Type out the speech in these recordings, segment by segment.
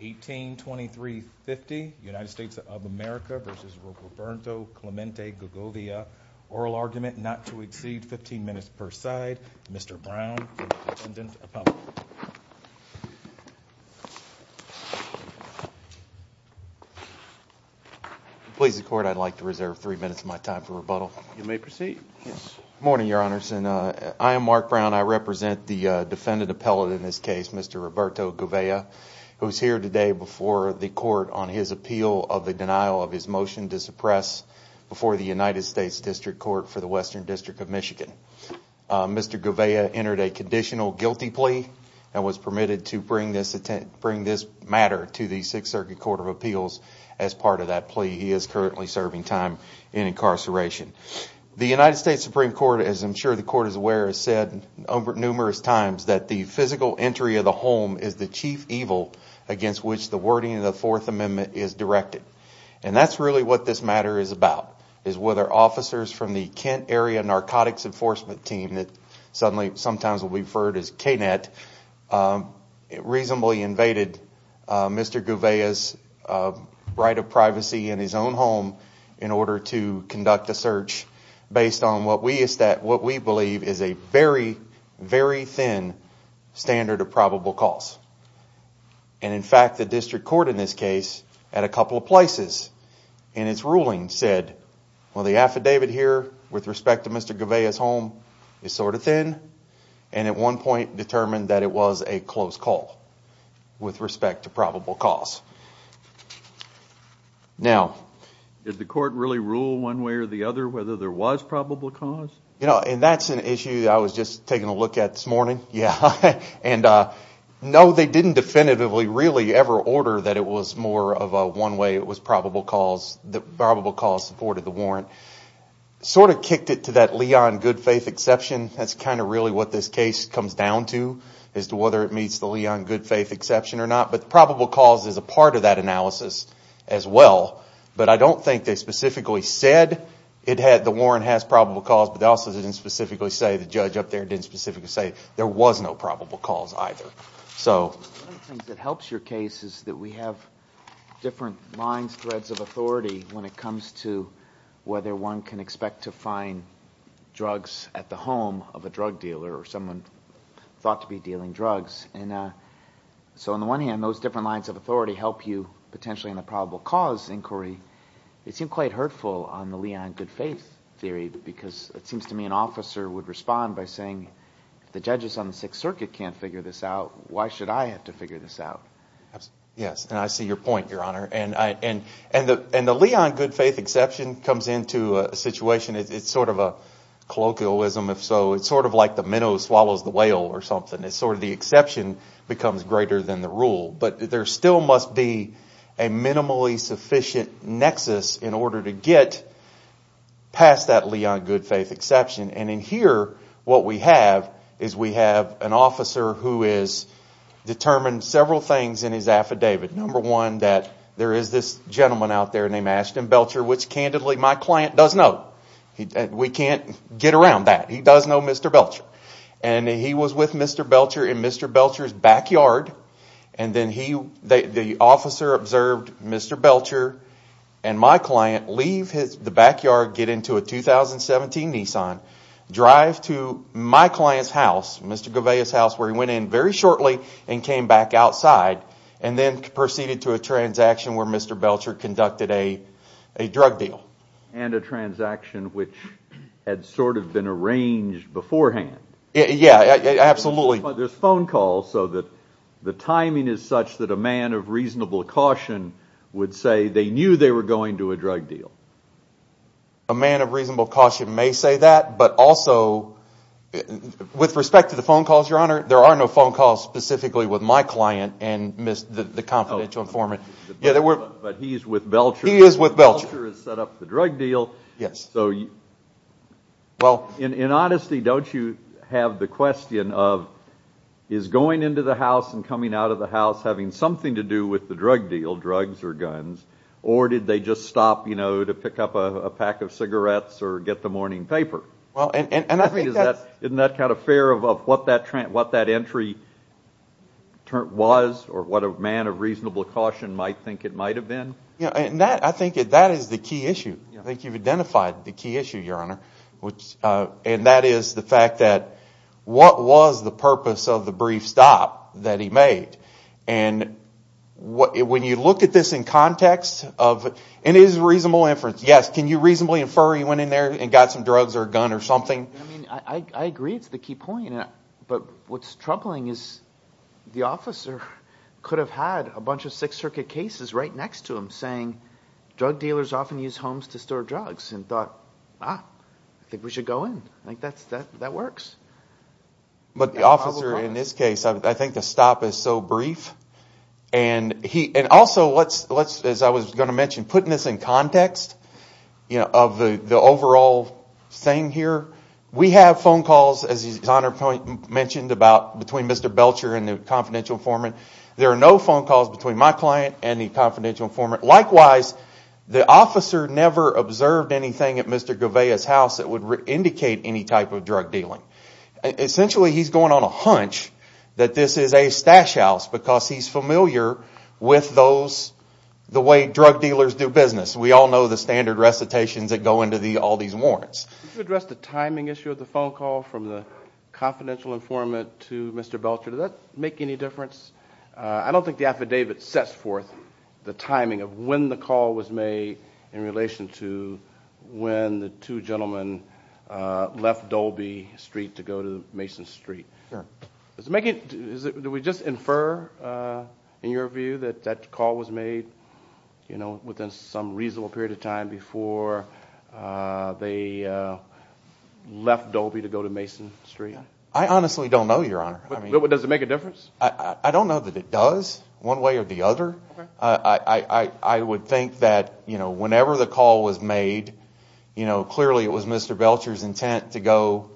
18-23-50 United States of America v. Roberto Clemente Govea Oral argument not to exceed 15 minutes per side Mr. Brown for the defendant's appeal Please the court, I'd like to reserve 3 minutes of my time for rebuttal You may proceed Good morning, your honors I am Mark Brown, I represent the defendant appellate in this case Mr. Roberto Govea, who is here today before the court on his appeal of the denial of his motion to suppress before the United States District Court for the Western District of Michigan Mr. Govea entered a conditional guilty plea and was permitted to bring this matter to the Sixth Circuit Court of Appeals as part of that plea, he is currently serving time in incarceration The United States Supreme Court, as I'm sure the court is aware, has said numerous times that the physical entry of the home is the chief evil against which the wording of the Fourth Amendment is directed and that's really what this matter is about is whether officers from the Kent Area Narcotics Enforcement Team that sometimes will be referred to as KNET reasonably invaded Mr. Govea's right of privacy in his own home in order to conduct a search based on what we believe is a very, very thin standard of probable cause and in fact the district court in this case at a couple of places in its ruling said well the affidavit here with respect to Mr. Govea's home is sort of thin and at one point determined that it was a close call with respect to probable cause Now, did the court really rule one way or the other whether there was probable cause? You know, and that's an issue I was just taking a look at this morning and no, they didn't definitively really ever order that it was more of a one way, it was probable cause that probable cause supported the warrant Sort of kicked it to that Leon Goodfaith exception that's kind of really what this case comes down to as to whether it meets the Leon Goodfaith exception or not but probable cause is a part of that analysis as well but I don't think they specifically said the warrant has probable cause but they also didn't specifically say, the judge up there didn't specifically say there was no probable cause either One of the things that helps your case is that we have different lines, threads of authority when it comes to whether one can expect to find drugs at the home of a drug dealer or someone thought to be dealing drugs So on the one hand, those different lines of authority help you potentially in the probable cause inquiry it seemed quite hurtful on the Leon Goodfaith theory because it seems to me an officer would respond by saying if the judges on the Sixth Circuit can't figure this out why should I have to figure this out? Yes, and I see your point, Your Honor and the Leon Goodfaith exception comes into a situation it's sort of a colloquialism if so it's sort of like the minnow swallows the whale or something the exception becomes greater than the rule but there still must be a minimally sufficient nexus in order to get past that Leon Goodfaith exception and in here, what we have is we have an officer who has determined several things in his affidavit Number one, that there is this gentleman out there named Ashton Belcher, which candidly my client does know we can't get around that, he does know Mr. Belcher and he was with Mr. Belcher in Mr. Belcher's backyard and then the officer observed Mr. Belcher and my client leave the backyard, get into a 2017 Nissan drive to my client's house, Mr. Goveia's house where he went in very shortly and came back outside and then proceeded to a transaction where Mr. Belcher conducted a drug deal and a transaction which had sort of been arranged beforehand Yeah, absolutely But there's phone calls so that the timing is such that a man of reasonable caution would say they knew they were going to a drug deal A man of reasonable caution may say that but also, with respect to the phone calls, your honor there are no phone calls specifically with my client and the confidential informant But he is with Belcher He is with Belcher Belcher has set up the drug deal Yes So, in honesty, don't you have the question of is going into the house and coming out of the house having something to do with the drug deal, drugs or guns or did they just stop to pick up a pack of cigarettes or get the morning paper? Isn't that kind of fair of what that entry was or what a man of reasonable caution might think it might have been? I think that is the key issue I think you've identified the key issue, your honor and that is the fact that what was the purpose of the brief stop that he made and when you look at this in context of and it is a reasonable inference Yes, can you reasonably infer he went in there and got some drugs or a gun or something? I agree it's the key point but what's troubling is the officer could have had a bunch of Sixth Circuit cases right next to him saying drug dealers often use homes to store drugs and thought, ah, I think we should go in I think that works But the officer in this case, I think the stop is so brief and also, as I was going to mention putting this in context of the overall thing here we have phone calls, as your honor mentioned between Mr. Belcher and the confidential informant there are no phone calls between my client and the confidential informant likewise, the officer never observed anything at Mr. Gouveia's house that would indicate any type of drug dealing essentially, he's going on a hunch that this is a stash house because he's familiar with those the way drug dealers do business we all know the standard recitations that go into all these warrants Could you address the timing issue of the phone call from the confidential informant to Mr. Belcher does that make any difference? I don't think the affidavit sets forth the timing of when the call was made in relation to when the two gentlemen left Dolby Street to go to Mason Street Do we just infer, in your view that that call was made within some reasonable period of time I honestly don't know, your honor Does it make a difference? I don't know that it does one way or the other I would think that whenever the call was made clearly it was Mr. Belcher's intent to go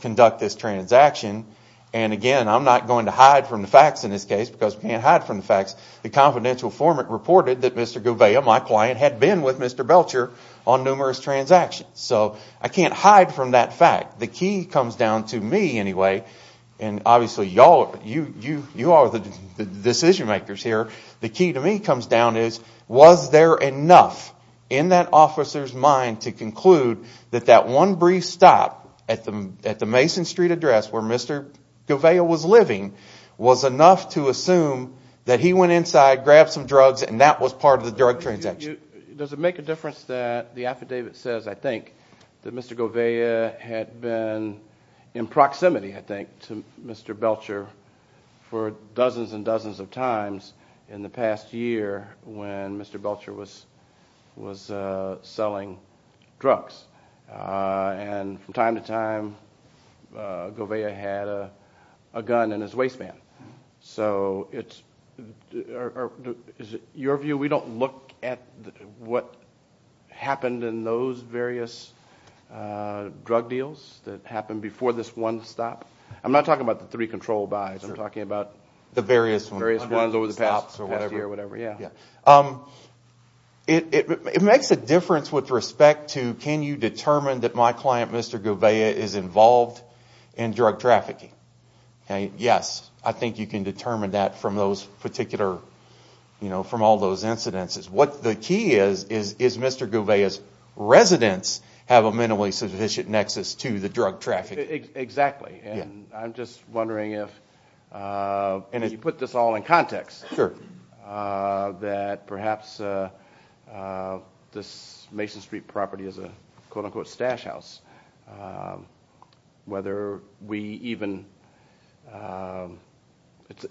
conduct this transaction and again, I'm not going to hide from the facts in this case because we can't hide from the facts the confidential informant reported that Mr. Gouveia my client, had been with Mr. Belcher on numerous transactions I can't hide from that fact the key comes down to me anyway and obviously you all are the decision makers here the key to me comes down to was there enough in that officer's mind to conclude that that one brief stop at the Mason Street address where Mr. Gouveia was living was enough to assume that he went inside, grabbed some drugs and that was part of the drug transaction Does it make a difference that the affidavit says, I think that Mr. Gouveia had been in proximity, I think to Mr. Belcher for dozens and dozens of times in the past year when Mr. Belcher was was selling drugs and from time to time Gouveia had a gun in his waistband so it's is it your view we don't look at what happened in those various drug deals that happened before this one stop I'm not talking about the three control buys I'm talking about the various ones over the past year It makes a difference with respect to can you determine that my client Mr. Gouveia is involved in drug trafficking Yes, I think you can determine that from those particular from all those incidences What the key is, is Mr. Gouveia's residents have a minimally sufficient nexus to the drug trafficking Exactly, and I'm just wondering if and if you put this all in context that perhaps this Mason Street property is a quote unquote stash house whether we even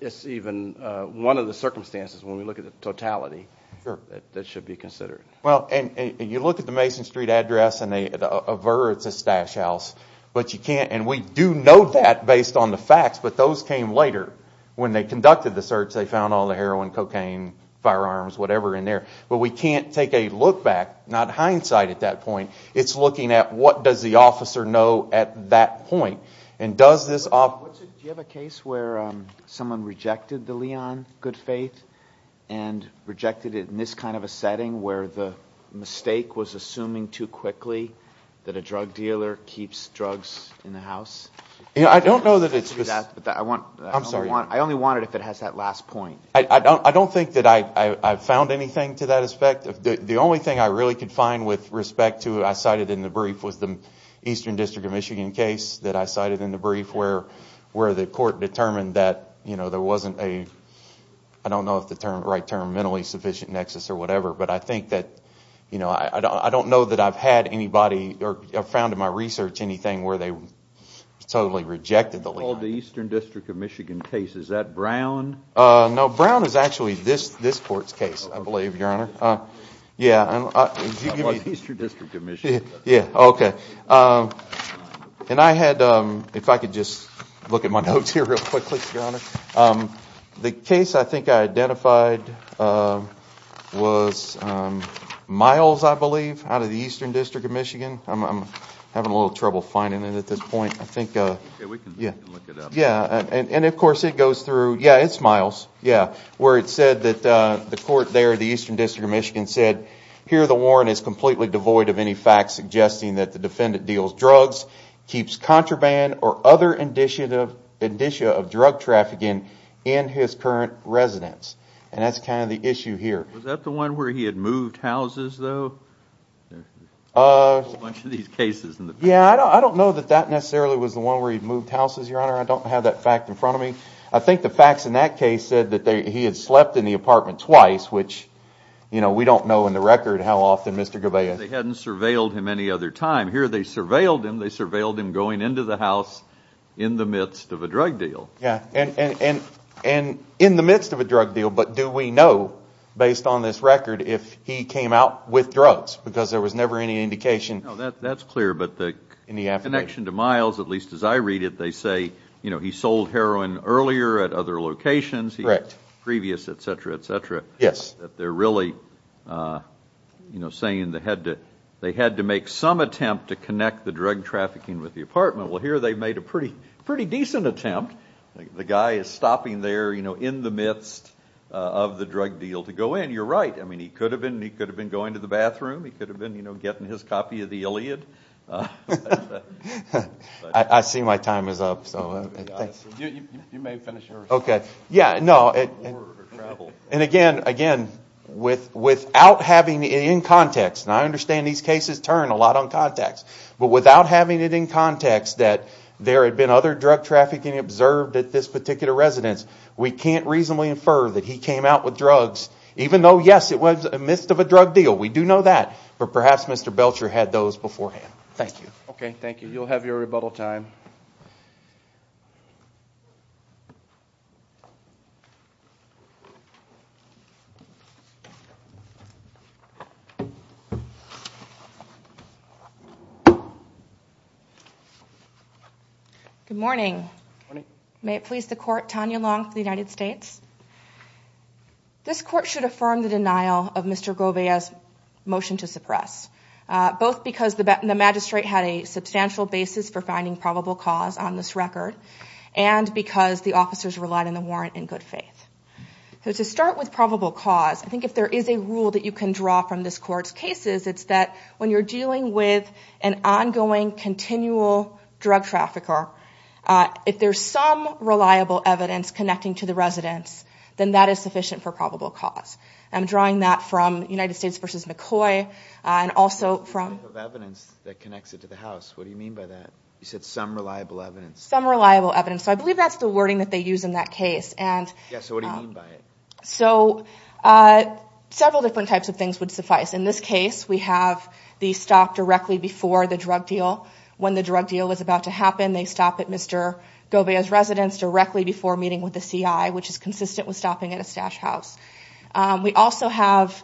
it's even one of the circumstances when we look at the totality that should be considered Well, and you look at the Mason Street address and it averts a stash house but you can't and we do know that based on the facts but those came later when they conducted the search they found all the heroin, cocaine, firearms, whatever in there but we can't take a look back not hindsight at that point it's looking at what does the officer know at that point Do you have a case where someone rejected the Leon Good Faith and rejected it in this kind of a setting where the mistake was assuming too quickly that a drug dealer keeps drugs in the house I don't know that it's I only want it if it has that last point I don't think that I found anything to that aspect the only thing I really could find with respect to it, I cited in the brief was the Eastern District of Michigan case that I cited in the brief where the court determined that there wasn't a I don't know if the term, right term mentally sufficient nexus or whatever but I think that I don't know that I've had anybody or found in my research anything where they totally rejected the Leon The Eastern District of Michigan case is that Brown? No, Brown is actually this court's case I believe, your honor Eastern District of Michigan Yeah, okay and I had if I could just look at my notes here real quickly, your honor the case I think I identified was Miles I believe, out of the Eastern District of Michigan I'm having a little trouble finding it at this point and of course it goes through, yeah it's Miles where it said that the court there, the Eastern District of Michigan said here the warrant is completely devoid of any facts suggesting that the defendant deals drugs, keeps contraband or other indicia of drug trafficking in his current residence and that's kind of the issue here Was that the one where he had moved houses, though? There's a whole bunch of these cases in the past Yeah, I don't know that that necessarily was the one where he moved houses your honor, I don't have that fact in front of me I think the facts in that case said that he had slept in the apartment twice which, you know, we don't know in the record how often, Mr. Gavea They hadn't surveilled him any other time Here they surveilled him, they surveilled him going into the house in the midst of a drug deal In the midst of a drug deal but do we know, based on this record, if he came out with drugs, because there was never any indication No, that's clear, but the connection to Miles, at least as I read it they say, you know, he sold heroin earlier at other locations previous, etc, etc that they're really you know, saying they had to they had to make some attempt to connect the drug trafficking with the apartment Well, here they made a pretty decent attempt. The guy is stopping there, you know, in the midst of the drug deal to go in You're right, I mean, he could have been going to the bathroom, he could have been, you know, getting his copy of the Iliad I see my time is up, so You may finish yours Yeah, no And again, again without having it in context, and I understand these cases turn a lot on context, but without having it in context that there had been other drug trafficking observed at this particular residence we can't reasonably infer that he came out with drugs, even though, yes, it was in the midst of a drug deal, we do know that but perhaps Mr. Belcher had those beforehand. Thank you. Okay, thank you. You'll have your rebuttal time Good morning Good morning May it please the court, Tanya Long for the United States This court should affirm the denial of Mr. Gouveia's motion to suppress, both because the magistrate had a substantial basis for finding probable cause on this record, and because the officers relied on the warrant in good faith So to start with probable cause, I think if there is a rule that you can draw from this court's cases, it's that when you're dealing with an ongoing, continual drug trafficker, if there's some reliable evidence connecting to the residence, then that is sufficient for probable cause. I'm drawing that from United States v. McCoy and also from evidence that connects it to the house, what do you mean by that? You said some reliable evidence Some reliable evidence. I believe that's the wording that they use in that case So what do you mean by it? Several different types of things would suffice. In this case, we have the stop directly before the drug deal. When the drug deal was about to happen, they stop at Mr. Gouveia's residence directly before meeting with the CI which is consistent with stopping at a stash house. We also have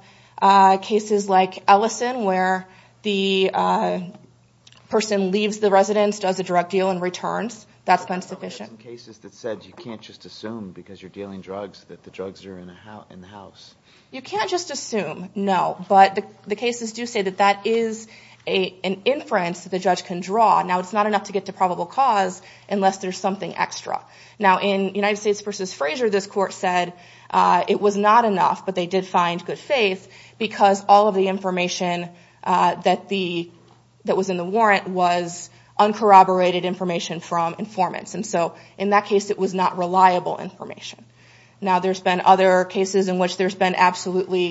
cases like Ellison, where the person leaves the That's insufficient. You can't just assume because you're dealing drugs that the drugs are in the house You can't just assume, no but the cases do say that that is an inference that the judge can draw. Now it's not enough to get to probable cause unless there's something extra Now in United States v. Frazier, this court said it was not enough, but they did find good faith because all of the information that the that was in the warrant was uncorroborated information from informants and so in that case, it was not reliable information. Now there's been other cases in which there's been absolutely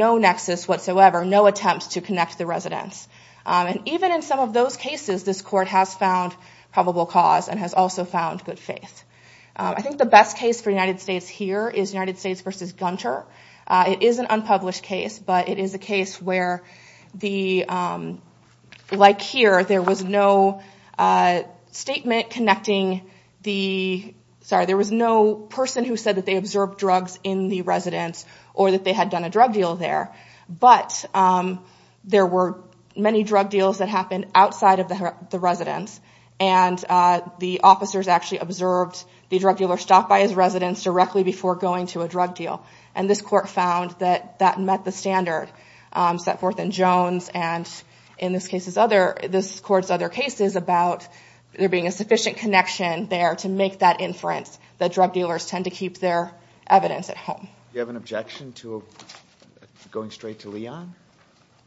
no nexus whatsoever, no attempt to connect the residence. And even in some of those cases, this court has found probable cause and has also found good faith. I think the best case for United States here is United States v. Gunter. It is an unpublished case, but it is a case where the like here, there was no statement connecting the sorry, there was no person who said that they observed drugs in the residence or that they had done a drug deal there. But there were many drug deals that happened outside of the residence and the officers actually observed the drug dealer stopped by his residence directly before going to a drug deal. And this court found that that met the standard set forth in Jones and in this court's other cases about there being a sufficient connection there to make that inference that drug dealers tend to keep their evidence at home. Do you have an objection to going straight to Leon?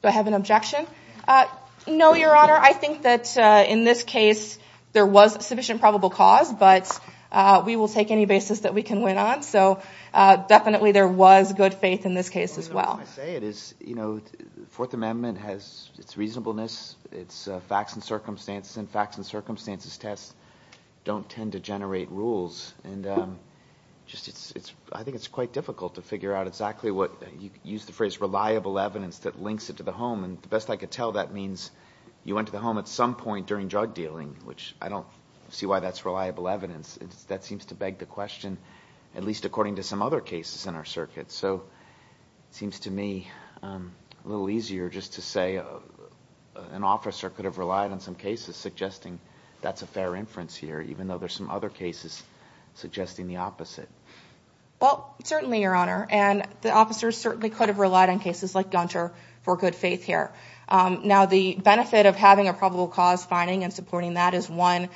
Do I have an objection? No, Your Honor. I think that in this case, there was sufficient probable cause, but we will take any basis that we can win on. So definitely there was good faith in this case as well. Fourth Amendment has its reasonableness, its facts and circumstances, and facts and circumstances tests don't tend to generate rules. And I think it's quite difficult to figure out exactly what, you used the phrase reliable evidence that links it to the home. And the best I could tell, that means you went to the home at some point during drug dealing, which I don't see why that's reliable evidence. That seems to beg the question, at least according to some other cases in our circuit. So it seems to me a little easier just to say an officer could have relied on some cases suggesting that's a fair inference here, even though there's some other cases suggesting the opposite. Well, certainly, Your Honor. And the officers certainly could have relied on cases like Gunter for good faith here. Now the benefit of having a probable cause finding and supporting that is one, you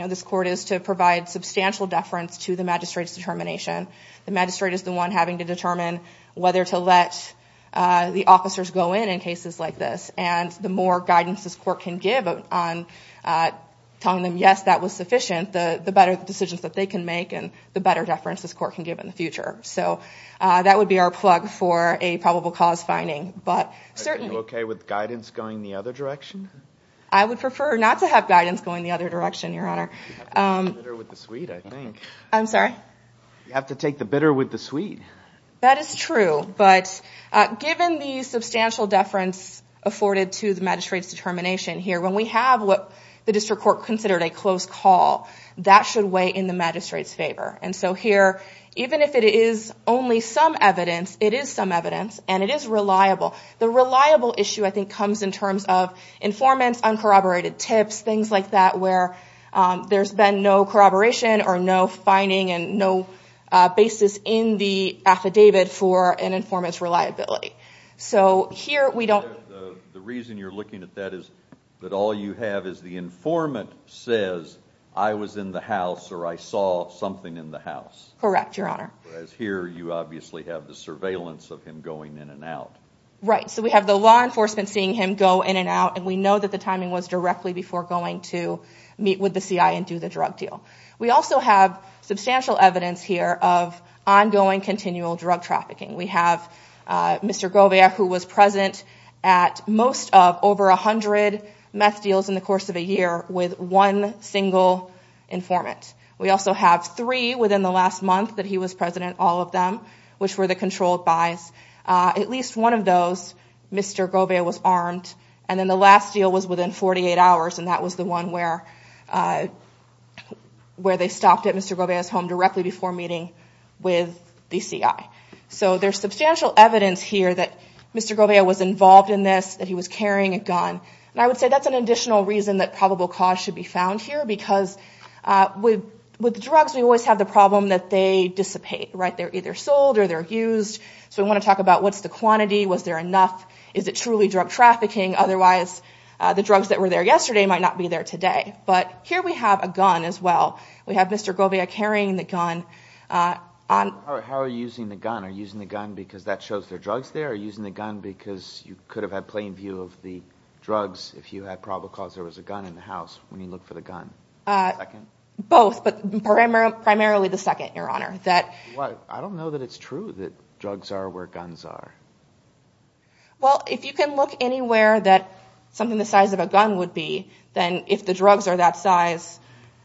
know, this court is to provide substantial deference to the magistrate's determination. The magistrate is the one having to determine whether to let the officers go in in cases like this. And the more guidance this court can give on telling them yes, that was sufficient, the better decisions that they can make and the better deference this court can give in the future. So that would be our plug for a probable cause finding. But certainly Are you okay with guidance going the other direction? I would prefer not to have guidance going the other direction, Your Honor. You have to take the bitter with the sweet, I think. I'm sorry? You have to take the bitter with the sweet. That is true, but given the substantial deference afforded to the magistrate's determination here, when we have what the district court considered a close call, that should weigh in the magistrate's favor. And so here, even if it is only some evidence, it is some evidence, and it is reliable. The reliable issue, I think, comes in terms of informants, uncorroborated tips, things like that where there's been no corroboration or no finding and no basis in the affidavit for an informant's reliability. So here, we don't... The reason you're looking at that is that all you have is the informant says, I was in the house or I saw something in the house. Correct, Your Honor. Whereas here you obviously have the surveillance of him going in and out. Right. So we have the law enforcement seeing him go in and out, and we know that the timing was directly before going to meet with the C.I. and do the drug deal. We also have substantial evidence here of ongoing, continual drug trafficking. We have Mr. Govia, who was present at most of over a hundred meth deals in the course of a year with one single informant. We also have three within the last month that he was president, all of them, which were the controlled buys. At least one of those, Mr. Govia was armed. And then the last deal was within 48 hours and that was the one where they stopped at Mr. Govia's home directly before meeting with the C.I. So there's substantial evidence here that Mr. Govia was involved in this, that he was carrying a gun. And I would say that's an additional reason that probable cause should be found here because with drugs, we always have the problem that they dissipate. Right. They're either sold or they're used. So we want to talk about what's the quantity? Was there enough? Is it truly drug trafficking? Otherwise, the drugs that were there yesterday might not be there today. But here we have a gun as well. We have Mr. Govia carrying the gun. How are you using the gun? Are you using the gun because that shows there are drugs there? Are you using the gun because you could have had plain view of the drugs if you had probable cause there was a gun in the house when you look for the gun? Both, but primarily the second, Your Honor. I don't know that it's true that drugs are where guns are. Well, if you can look anywhere that something the size of a gun would be, then if the drugs are that size,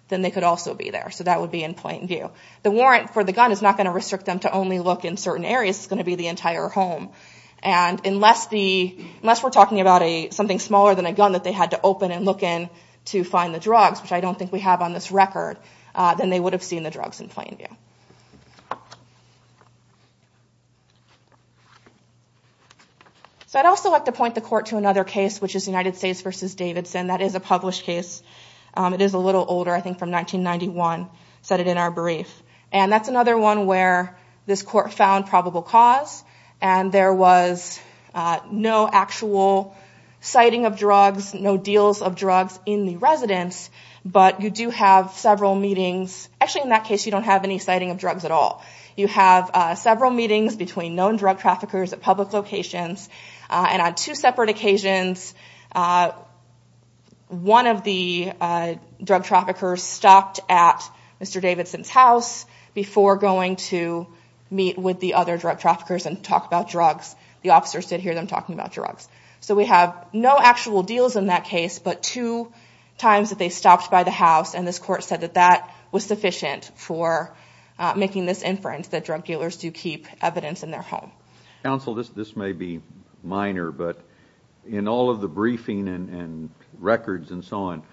then they could also be there. So that would be in plain view. The warrant for the gun is not going to restrict them to only look in certain areas. It's going to be the entire home. And unless we're talking about something smaller than a gun that they had to open and look in to find the drugs, which I don't think we have on this record, then they would have seen the drugs in plain view. I'd also like to point the Court to another case, which is United States v. Davidson. That is a published case. It is a little older, I think from 1991. I said it in our brief. And that's another one where this Court found probable cause, and there was no actual citing of drugs, no deals of drugs in the residence, but you do have several meetings. Actually, in that case, you don't have any citing of drugs at all. You have several meetings between known drug traffickers at public locations, and on two separate occasions, one of the drug traffickers stopped at Mr. Davidson's house before going to meet with the other drug traffickers and talk about drugs. The officers did hear them talking about drugs. So we have no actual deals in that case, but two times that they stopped by the house, and this Court said that that was sufficient for making this inference that drug dealers do keep evidence in their home. Counsel, this may be minor, but in all of the briefing and records and so on,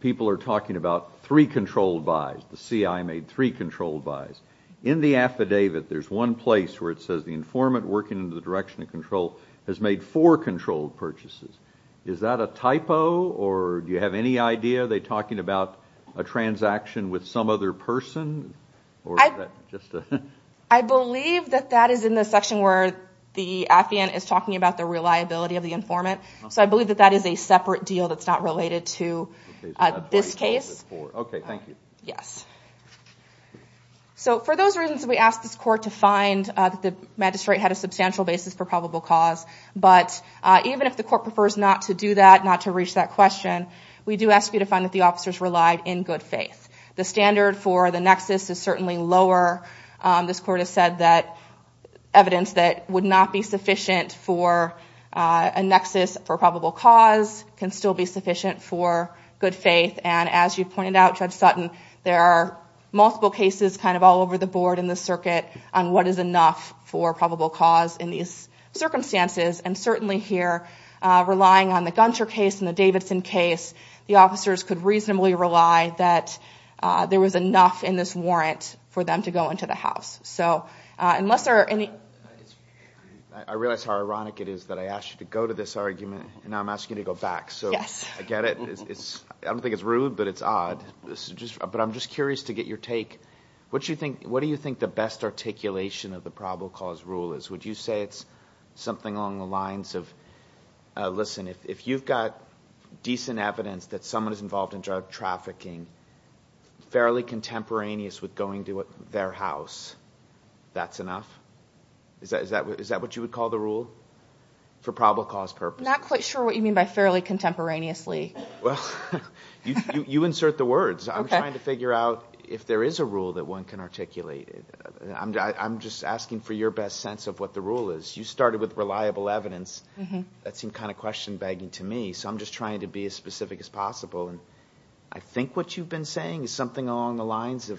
people are talking about three controlled buys. The CI made three controlled buys. In the affidavit, there's one place where it says the informant working in the direction of control has made four controlled purchases. Is that a typo, or do you have any idea? Are they talking about a transaction with some other person? I believe that that is in the section where the affiant is talking about the reliability of the informant, so I believe that that is a separate deal that's not related to this case. Okay, thank you. So for those reasons, we asked this Court to find that the magistrate had a substantial basis for probable cause, but even if the Court prefers not to do that, not to reach that question, we do ask you to find that the officers relied in good faith. The standard for the nexus is certainly lower. This Court has said that evidence that would not be sufficient for a nexus for probable cause can still be sufficient for good faith, and as you pointed out, Judge Sutton, there are multiple cases kind of all over the board in the circuit on what is enough for probable cause in these circumstances, and certainly here, relying on the Gunter case and the Davidson case, the officers could reasonably rely that there was enough in this warrant for them to go into the house. I realize how ironic it is that I asked you to go to this argument, and now I'm asking you to go back, so I get it. I don't think it's rude, but it's odd. But I'm just curious to get your take. What do you think the best articulation of the probable cause rule is? Would you say it's something along the lines of listen, if you've got decent evidence that someone is involved in drug trafficking fairly contemporaneous with going to their house, that's enough? Is that what you would call the rule for probable cause purposes? I'm not quite sure what you mean by fairly contemporaneously. You insert the words. I'm trying to figure out if there is a rule that one can articulate. I'm just asking for your best sense of what the rule is. You started with reliable evidence. That seemed kind of question-begging to me, so I'm just trying to be as specific as possible. I think what you've been saying is something along the lines of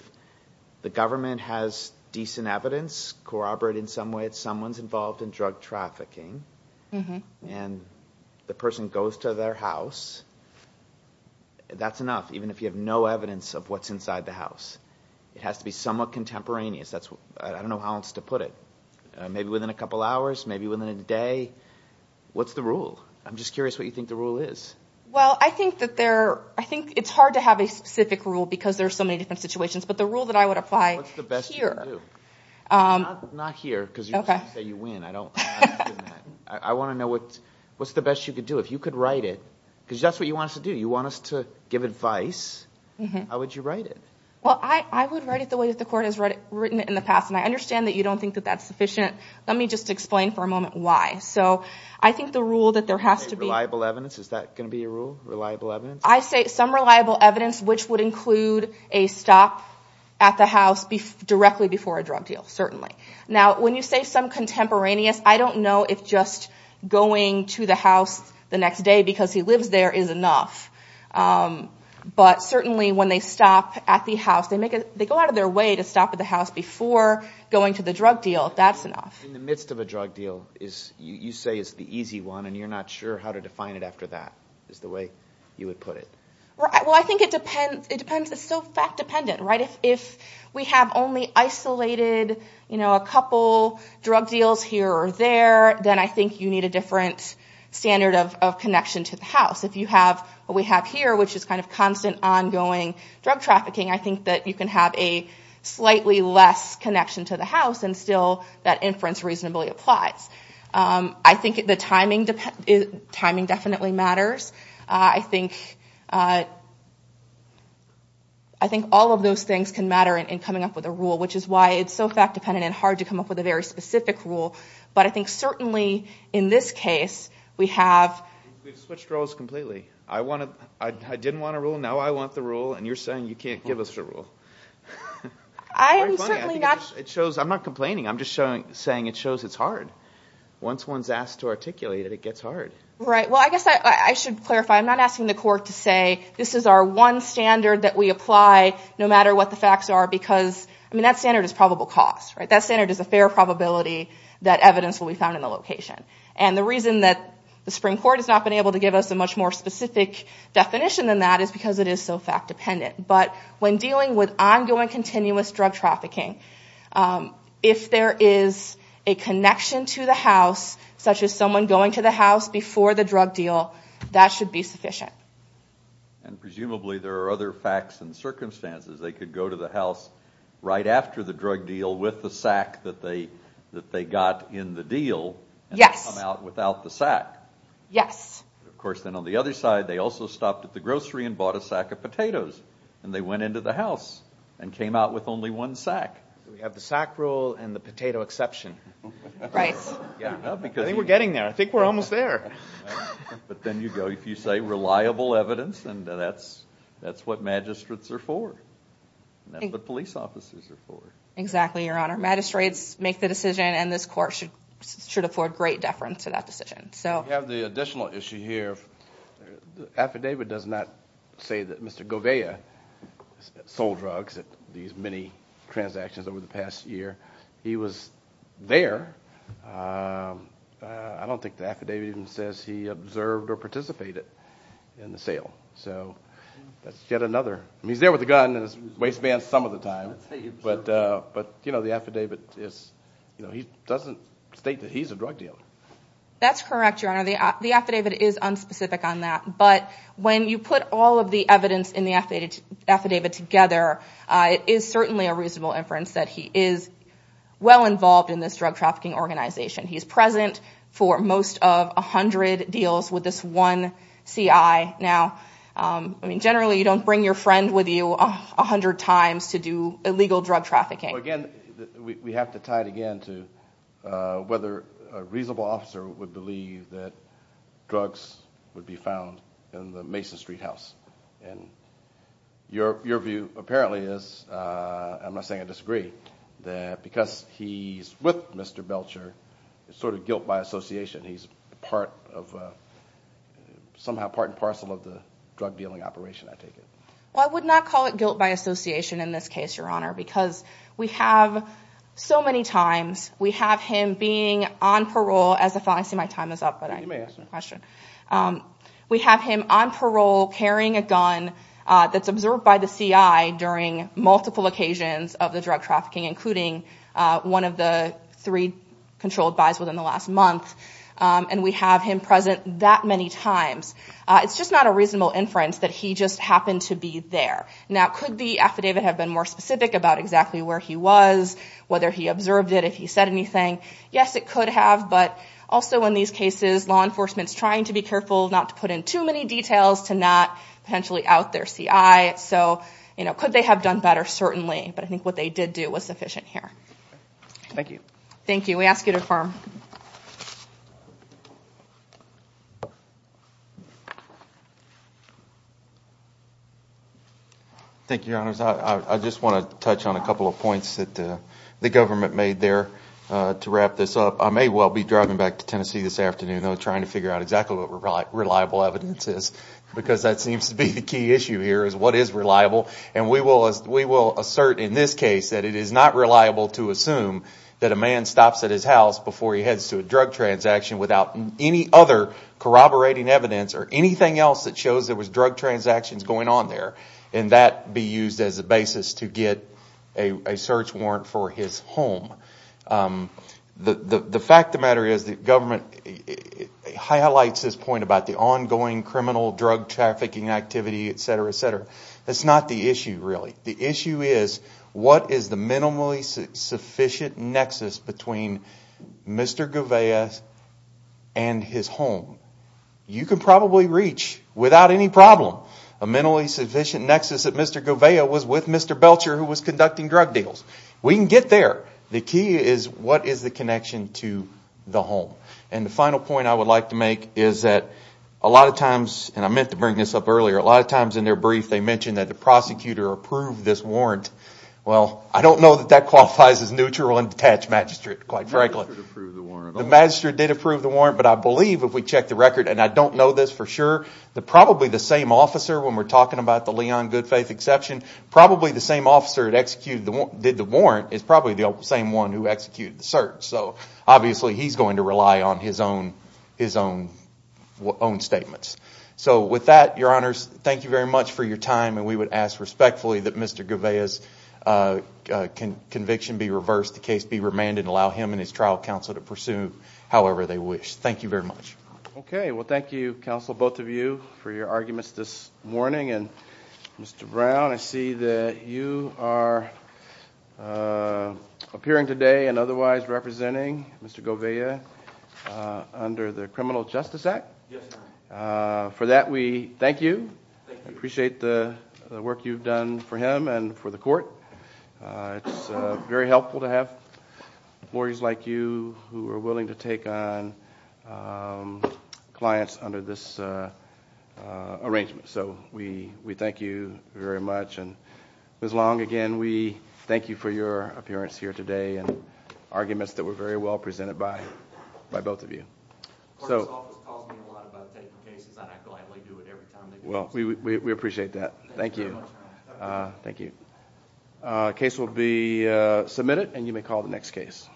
the government has decent evidence corroborate in some way that someone's involved in drug trafficking, and the person goes to their house. That's enough, even if you have no evidence of what's inside the house. It has to be somewhat contemporaneous. I don't know how else to put it. Maybe within a couple hours, maybe within a day. What's the rule? I'm just curious what you think the rule is. I think it's hard to have a specific rule because there are so many different situations, but the rule that I would apply here... What's the best you can do? Not here, because you say you win. I don't understand that. I want to know what's the best you can do. If you could write it, because that's what you want us to do. You want us to give advice. How would you write it? I would write it the way the court has written it in the past. I understand that you don't think that's sufficient. Let me just explain for a moment why. I think the rule that there has to be... Reliable evidence? Is that going to be your rule? Reliable evidence? I say some reliable evidence, which would include a stop at the house directly before a drug deal, certainly. When you say some contemporaneous, I don't know if just going to the house the next day because he lives there is enough. But certainly, when they stop at the house, they go out of their way to stop at the house before going to the drug deal. That's enough. In the midst of a drug deal, you say it's the easy one, and you're not sure how to define it after that, is the way you would put it. I think it depends. It's so fact-dependent. If we have only isolated a couple drug deals here or there, then I think you need a different standard of connection to the house. If you have what we have here, which is constant, ongoing drug trafficking, I think that you can have a slightly less connection to the house, and still that inference reasonably applies. I think the timing definitely matters. I think all of those things can matter in coming up with a rule, which is why it's so fact-dependent and hard to come up with a very specific rule. But I think certainly in this case, we have... We've switched roles completely. I didn't want a rule, now I want the rule, and you're saying you can't give us a rule. I'm not complaining. I'm just saying it shows it's hard. Once one's asked to articulate it, it gets hard. Right. Well, I guess I should clarify. I'm not asking the court to say this is our one standard that we apply no matter what the facts are, because that standard is probable cause. That standard is a fair probability that evidence will be found in the location. And the reason that the Supreme Court has not been able to give us a much more specific definition than that is because it is so fact-dependent. But when dealing with ongoing, continuous drug trafficking, if there is a connection to the house, such as someone going to the house before the drug deal, that should be sufficient. And presumably there are other facts and circumstances. They could go to the house right after the drug deal with the sack that they got in the deal and come out without the sack. Yes. Of course, then on the other side, they also stopped at the grocery and bought a sack of potatoes. And they went into the house and came out with only one sack. We have the sack rule and the potato exception. Right. I think we're getting there. I think we're almost there. But then you go, if you say reliable evidence, that's what magistrates are for. That's what police officers are for. Exactly, Your Honor. Magistrates make the decision and this court should afford great deference to that decision. We have the additional issue here. The affidavit does not say that Mr. Govea sold drugs at these many transactions over the past year. He was there. I don't think the affidavit even says he observed or participated in the sale. So that's yet another. He's there with a gun and his waistband some of the time. But the affidavit doesn't state that he's a drug dealer. That's correct, Your Honor. The affidavit is unspecific on that. But when you put all of the evidence in the affidavit together, it is certainly a reasonable inference that he is well involved in this drug trafficking organization. He's present for most of 100 deals with this one CI. Generally, you don't bring your friend with you 100 times to do illegal drug trafficking. Again, we have to tie it again to whether a reasonable officer would believe that drugs would be found in the Mason Street house. Your view apparently is, I'm not saying I disagree, that because he's with Mr. Belcher, it's sort of guilt by association. He's somehow part and parcel of the drug dealing operation, I take it. Well, I would not call it guilt by association in this case, Your Honor, because we have so many times we have him being on parole. I see my time is up, but I may ask a question. We have him on parole carrying a gun that's observed by the CI during multiple occasions of the drug trafficking, including one of the three controlled buys within the last month. And we have him present that many times. It's just not a reasonable inference that he just happened to be there. Now, could the affidavit have been more specific about exactly where he was, whether he observed it, if he said anything? Yes, it could have, but also in these cases law enforcement's trying to be careful not to put in too many details to not potentially out their CI. Could they have done better? Certainly. But I think what they did do was sufficient here. Thank you. We ask you to confirm. Thank you. Thank you, Your Honors. I just want to touch on a couple of points that the government made there to wrap this up. I may well be driving back to Tennessee this afternoon trying to figure out exactly what reliable evidence is, because that seems to be the key issue here is what is reliable. And we will assert in this case that it is not reliable to assume that a man stops at his house before he heads to a drug transaction without any other corroborating evidence or anything else that shows there was drug transactions going on there and that be used as a basis to get a search warrant for his home. The fact of the matter is the government highlights this point about the ongoing criminal drug trafficking activity, etc., etc. That's not the issue really. The issue is what is the minimally sufficient nexus between Mr. Gouveia and his home. You can probably reach, without any problem, a minimally sufficient nexus that Mr. Gouveia was with Mr. Belcher who was conducting drug deals. We can get there. The key is what is the connection to the home. And the final point I would like to make is that a lot of times and I meant to bring this up earlier, a lot of times in their brief they mention that the prosecutor approved this warrant. Well, I don't know that that qualifies as a warrant. The magistrate did approve the warrant, but I believe if we check the record and I don't know this for sure, probably the same officer when we're talking about the Leon Goodfaith exception, probably the same officer that did the warrant is probably the same one who executed the search. So obviously he's going to rely on his own statements. So with that, your honors, thank you very much for your time and we would ask respectfully that Mr. Gouveia's conviction be reversed, the case be remanded and allow him and his trial counsel to pursue however they wish. Thank you very much. Thank you, counsel, both of you, for your arguments this morning. Mr. Brown, I see that you are appearing today and otherwise representing Mr. Gouveia under the Criminal Justice Act. For that, we thank you. We appreciate the work you've done for him and for the court. It's very helpful to have lawyers like you who are willing to take on clients under this arrangement. So we thank you very much and Ms. Long, again, we thank you for your appearance here today and arguments that were very well presented by both of you. The court's office calls me a lot about taking cases and I gladly do it every time they do. We appreciate that. Thank you. Thank you. The case will be submitted and you may call the next case.